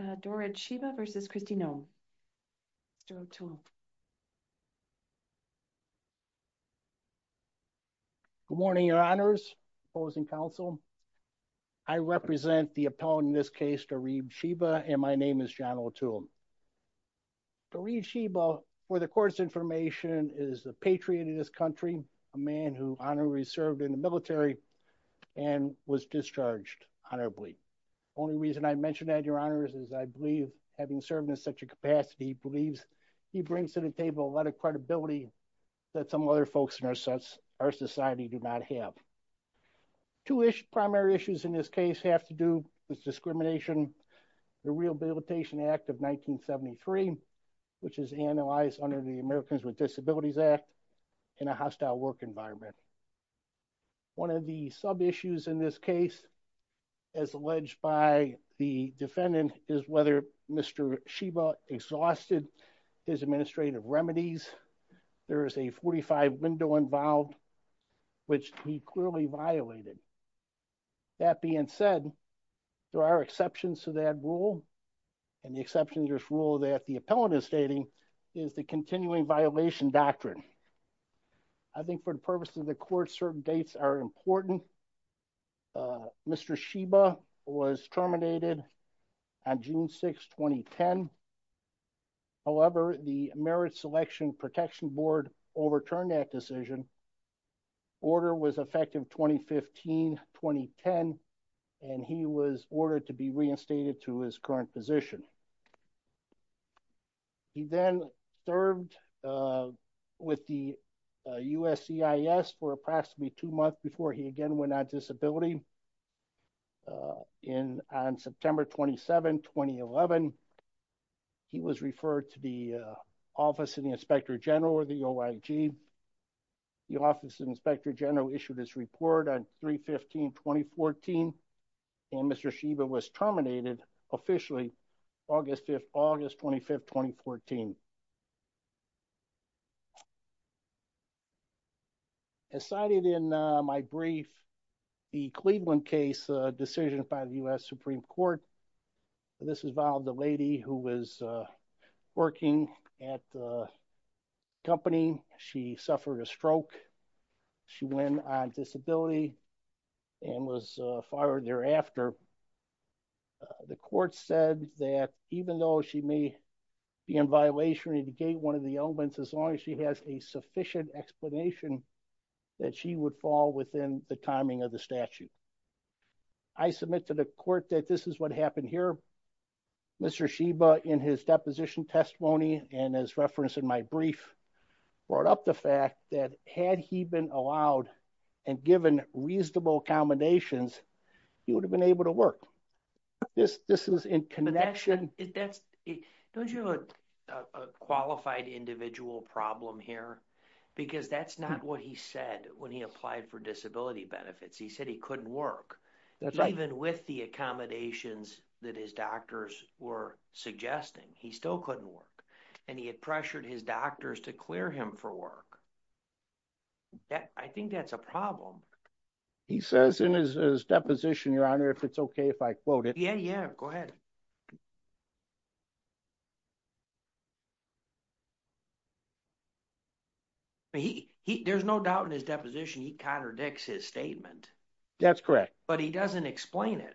Good morning, your honors, opposing counsel. I represent the opponent in this case, Doreeb Shiba, and my name is John O'Toole. Doreeb Shiba, for the court's information, is a patriot in this country, a man who honorably served in the military and was discharged honorably. Only reason I mention that, your honors, is I believe having served in such a capacity, he believes he brings to the table a lot of credibility that some other folks in our society do not have. Two primary issues in this case have to do with discrimination. The Rehabilitation Act of 1973, which is analyzed under the Americans with Disabilities Act in a hostile work environment. One of the sub-issues in this case, as alleged by the defendant, is whether Mr. Shiba exhausted his administrative remedies. There is a 45 window involved, which he clearly violated. That being said, there are exceptions to that rule, and the exception to this rule that the court served dates are important. Mr. Shiba was terminated on June 6, 2010. However, the Merit Selection Protection Board overturned that decision. Order was effective 2015-2010, and he was ordered to be reinstated to his current position. He then served with the USCIS for approximately two months before he again went on disability. On September 27, 2011, he was referred to the Office of the Inspector General, or the OIG. The Office of the Inspector General issued his report on 3-15-2014, and Mr. Shiba was terminated officially August 25, 2014. As cited in my brief, the Cleveland case decision by the U.S. Supreme Court, and this involved a lady who was working at the company. She suffered a stroke. She went on disability, and was fired thereafter. The court said that even though she may be in violation and indicate one of the elements, as long as she has a sufficient explanation that she would fall within the timing of the statute. I submit to the court that this is what happened here. Mr. Shiba, in his deposition testimony, and as referenced in my brief, brought up the fact that had he been allowed and given reasonable accommodations, he would have been able to work. This is in connection. Don't you have a qualified individual problem here? Because that's not what he said when he applied for disability benefits. He said he couldn't work. Even with the accommodations that his doctors were suggesting, he still couldn't work. And he had pressured his doctors to clear him for work. I think that's a problem. He says in his deposition, your honor, if it's okay if I quote it. Yeah, yeah, go ahead. There's no doubt in his deposition he contradicts his statement. That's correct. But he doesn't explain it.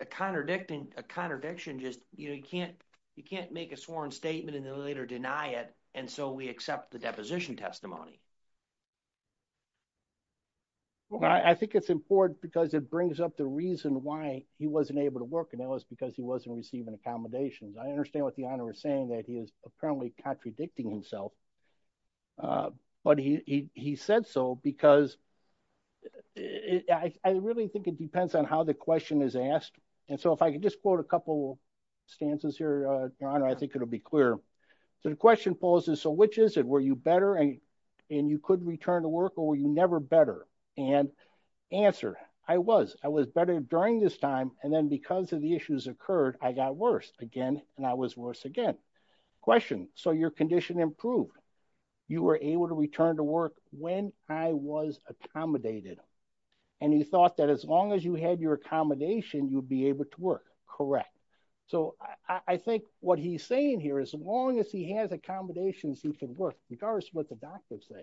A contradiction just, you know, you can't make a sworn statement and then later deny it. And so we accept the deposition testimony. I think it's important because it brings up the reason why he wasn't able to work and it was because he wasn't receiving accommodations. I understand what the honor is saying that he is apparently contradicting himself. But he he said so because I really think it depends on how the question is asked. And so if I could just quote a couple stances here, your honor, I think it'll be clear. So the question poses, so which is it? Were you better and you could return to work or were you never better? And answer, I was, I was better during this time. And then because of the issues occurred, I got worse again. And I was worse again. Question. So your condition improved. You were able to return to work when I was accommodated. And he thought that as long as you had your accommodation, you'd be able to work. Correct. So I think what he's saying here is long as he has accommodations, he can work regardless of what the doctors say.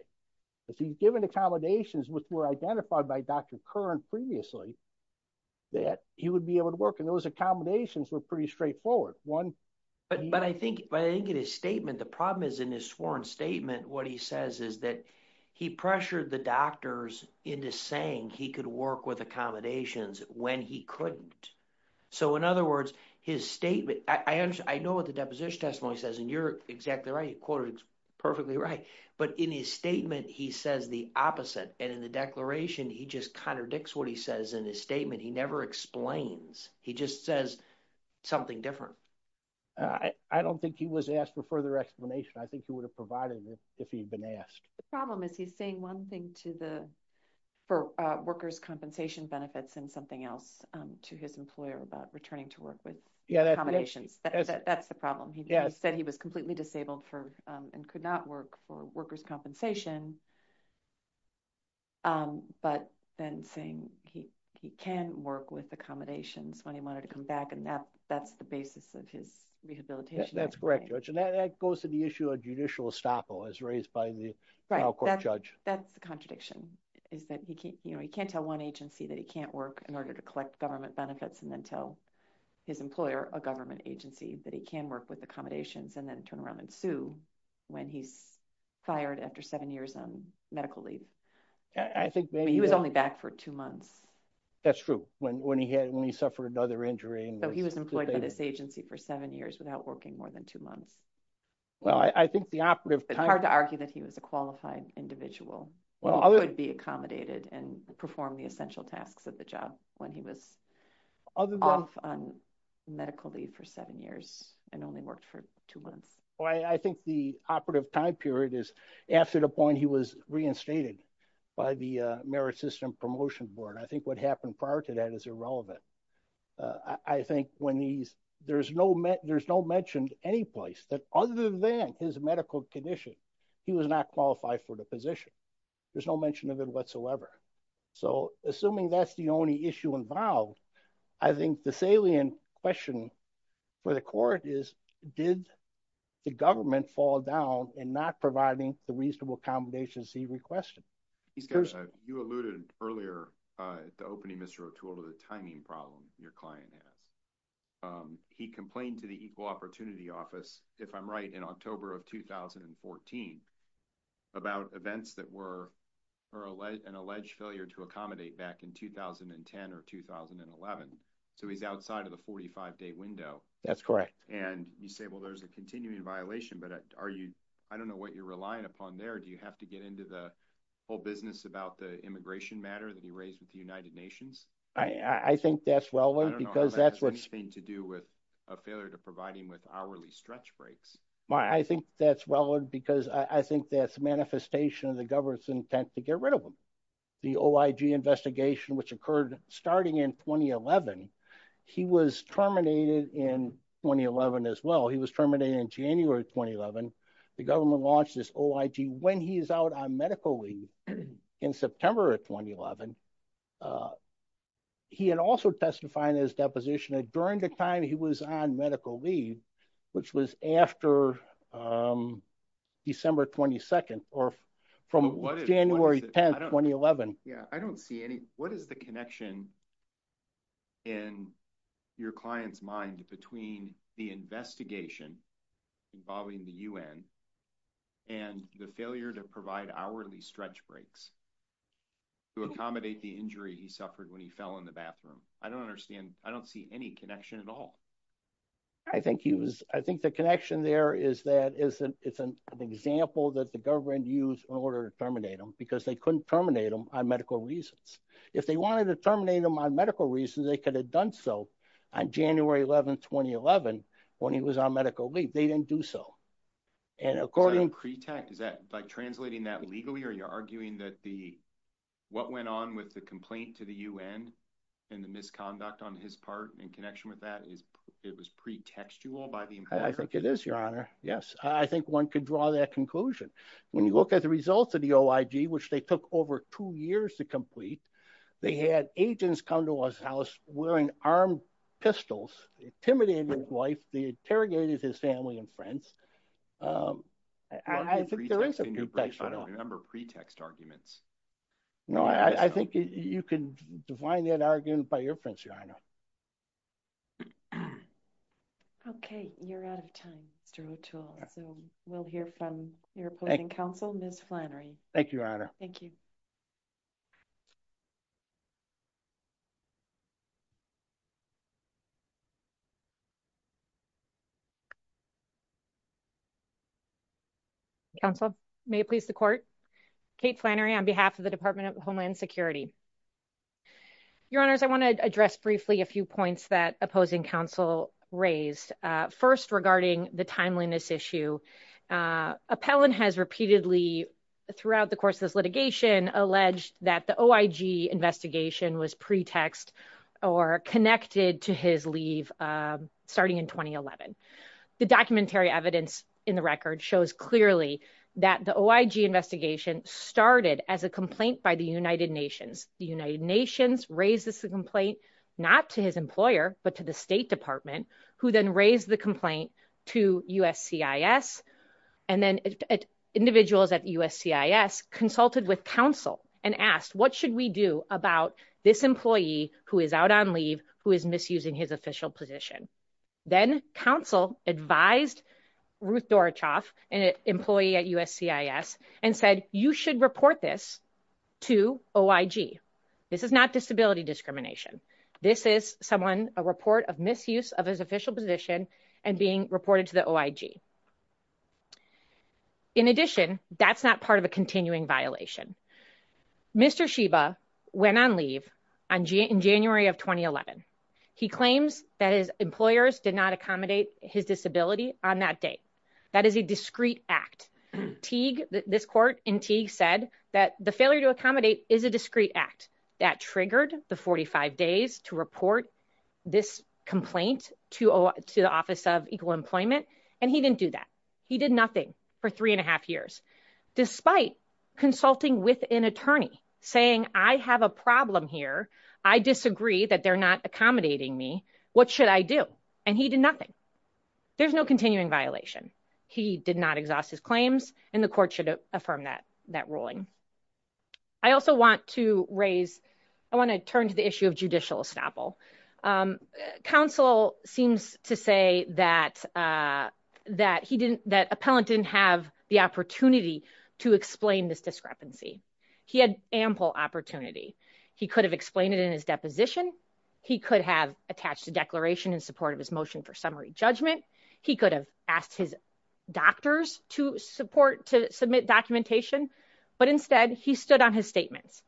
If he's given accommodations, which were identified by Dr. Curran previously, that he would be able to work. And those accommodations were pretty straightforward. One, but I think, but I think in his statement, the problem is in his sworn statement, what he says is that he pressured the doctors into saying he could work with accommodations when he couldn't. So in other words, his statement, I understand, I know what the deposition testimony says, and you're exactly right. He quoted perfectly right. But in his statement, he says the opposite. And in the declaration, he just contradicts what he says in his statement. He never explains. He just says something different. I don't think he was asked for further explanation. I think he would have provided it if he'd been asked. The problem is he's saying one thing to the, for workers' compensation benefits and something else to his employer about returning to work with accommodations. That's the problem. He said he was completely disabled for, and could not work for workers' compensation. But then saying he can work with accommodations when he wanted to come back. And that's the basis of his rehabilitation. That's correct, Judge. And that goes to the issue of judicial estoppel as raised by the trial court judge. Right. That's the contradiction is that he can't, you know, he can't tell one agency that he can't work in order to collect government benefits and then tell his employer, a government agency, that he can work with accommodations and then turn around and sue when he's fired after seven years on medical leave. I think he was only back for two months. That's true. When he had, when he suffered another injury. So he was employed by this agency for seven years without working more than two months. Well, I think the operative time. It's hard to argue that he was a qualified individual. Well, he could be accommodated and perform the essential tasks of the job when he was off on medical leave for seven years and only worked for two months. I think the operative time period is after the point he was reinstated by the Merit System Promotion Board. I think what happened prior to that is irrelevant. I think when he's, there's no mention any place that other than his medical condition, he was not qualified for the position. There's no mention of it whatsoever. So assuming that's the only issue involved, I think the salient question for the court is, did the government fall down and not providing the reasonable accommodations he requested? You alluded earlier at the opening, Mr. O'Toole, to the timing problem your client has. He complained to the Equal Opportunity Office, if I'm right, in October of 2014 about events that were an alleged failure to accommodate back in 2010 or 2011. So he's outside of the 45-day window. That's correct. And you say, well, there's a continuing violation, but are you, I don't know what you're relying upon there. Do you have to get into the whole business about the immigration matter that he raised with the United Nations? I think that's relevant because that's what... I don't know how that has anything to do with a failure to provide him with hourly stretch breaks. My, I think that's relevant because I think that's a manifestation of the government's intent to get rid of him. The OIG investigation, which occurred starting in 2011, he was terminated in 2011 as well. He was terminated in January of 2011. The government launched this OIG when he was out on medical leave in September of 2011. He had also testified in his deposition during the time he was on medical leave, which was after December 22nd or from January 10th, 2011. Yeah. I don't see any, what is the connection in your client's mind between the investigation involving the UN and the failure to provide hourly stretch breaks to accommodate the injury he suffered when he fell in the bathroom? I don't understand. I don't see any connection at all. I think he was... I think the connection there is that it's an example that the government used in order to terminate him because they couldn't terminate him on medical reasons. If they wanted to terminate him on medical reasons, they could have done so on January 11th, when he was on medical leave. They didn't do so. Is that a pretext? Is that by translating that legally? Are you arguing that what went on with the complaint to the UN and the misconduct on his part in connection with that, it was pretextual by the... I think it is, Your Honor. Yes. I think one could draw that conclusion. When you look at the results of the OIG, which they took over two years to complete, they had agents come to his house wearing armed pistols, intimidated his wife, they interrogated his family and friends. I think there is a pretext. I don't remember pretext arguments. No, I think you can define that argument by your inference, Your Honor. Okay. You're out of time, Mr. O'Toole. We'll hear from your opposing counsel, Ms. Flannery. Thank you, Your Honor. Thank you. Counsel, may it please the court? Kate Flannery on behalf of the Department of Homeland Security. Your Honors, I want to address briefly a few points that opposing counsel raised. First, regarding the timeliness issue. Appellant has repeatedly, throughout the course of this litigation, alleged that the OIG investigation was pretext or connected to his leave starting in 2011. The documentary evidence in the record shows clearly that the OIG investigation started as a complaint by the United Nations. The United Nations raised this complaint, not to his employer, but to the State Department, who then raised the complaint to USCIS. Then individuals at USCIS consulted with counsel and asked, what should we do about this employee who is out on leave, who is misusing his official position? Then counsel advised Ruth Dorachoff, an employee at USCIS, and said, you should report this to OIG. This is not disability discrimination. This is someone, a report of misuse of his official position and being reported to the OIG. In addition, that's not part of a continuing violation. Mr. Sheba went on leave in January of 2011. He claims that his employers did not accommodate his disability on that date. That is a discrete act. Teague, this court in Teague, said that the failure to accommodate is a discrete act. That triggered the 45 days to report this complaint to the Office of Equal Employment, and he didn't do that. He did nothing for three and a half years, despite consulting with an attorney saying, I have a problem here. I disagree that they're not accommodating me. What should I do? He did nothing. There's no continuing violation. He did not exhaust his and the court should affirm that ruling. I also want to raise, I want to turn to the issue of judicial estoppel. Counsel seems to say that appellant didn't have the opportunity to explain this discrepancy. He had ample opportunity. He could have explained it in his deposition. He could have attached a declaration in support of his motion for summary judgment. He could have asked his doctors to submit documentation, but instead he stood on his statements.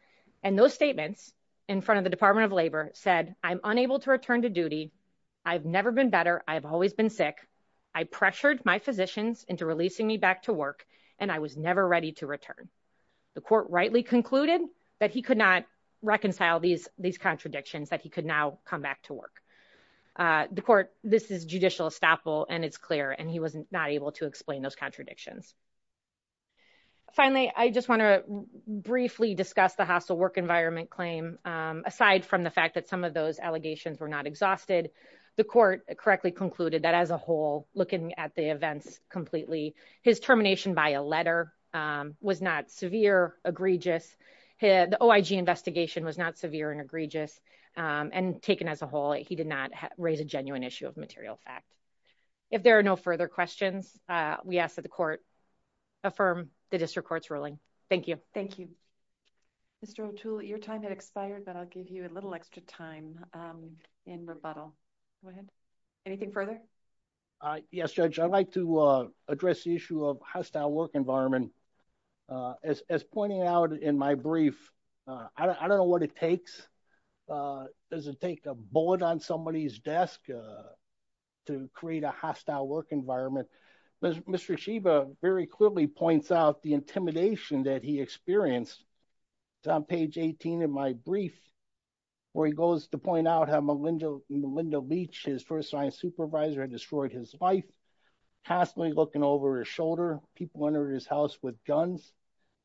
And those statements in front of the Department of Labor said, I'm unable to return to duty. I've never been better. I've always been sick. I pressured my physicians into releasing me back to work, and I was never ready to return. The court rightly concluded that he could not reconcile these contradictions, that he could now come back to work. The court, this is judicial estoppel, and it's clear, and he was not able to explain those contradictions. Finally, I just want to briefly discuss the hostile work environment claim. Aside from the fact that some of those allegations were not exhausted, the court correctly concluded that as a whole, looking at the events completely, his termination by a letter was not severe, egregious. The OIG investigation was not egregious, and taken as a whole, he did not raise a genuine issue of material fact. If there are no further questions, we ask that the court affirm the district court's ruling. Thank you. Thank you. Mr. O'Toole, your time has expired, but I'll give you a little extra time in rebuttal. Go ahead. Anything further? Yes, Judge. I'd like to address the issue of hostile work environment. As pointed out in my brief, I don't know what it takes. Does it take a bullet on somebody's desk to create a hostile work environment? Mr. Shiva very clearly points out the intimidation that he experienced. It's on page 18 of my brief, where he goes to point out how Melinda Leach, his first-line supervisor, had destroyed his life. Constantly looking over his shoulder, people entered his house with guns.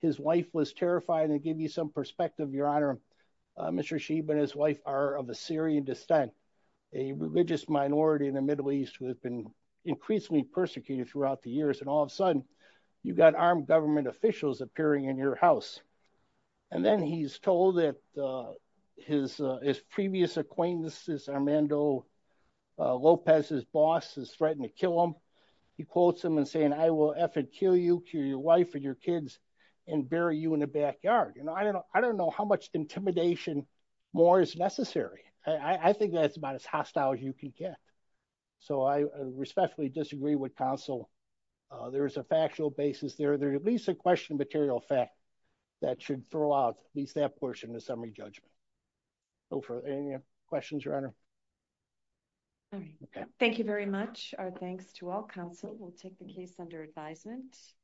His wife was terrified, and to give you some perspective, Your Honor, Mr. Shiva and his wife are of Assyrian descent, a religious minority in the Middle East who have been increasingly persecuted throughout the years. And all of a sudden, you've got armed government officials appearing in your house. And then he's told that his previous acquaintances, Armando Lopez, his boss, has threatened to kill him. He quotes him and saying, I will effing kill you, kill your wife and your kids, and bury you in the backyard. I don't know how much intimidation more is necessary. I think that's about as hostile as you can get. So I respectfully disagree with counsel. There is a factual basis there. There's at least a question of material fact that should throw out at least that portion of the summary judgment. So for any questions, Your Honor? All right. Thank you very much. Our thanks to all counsel. We'll take the case under advisement.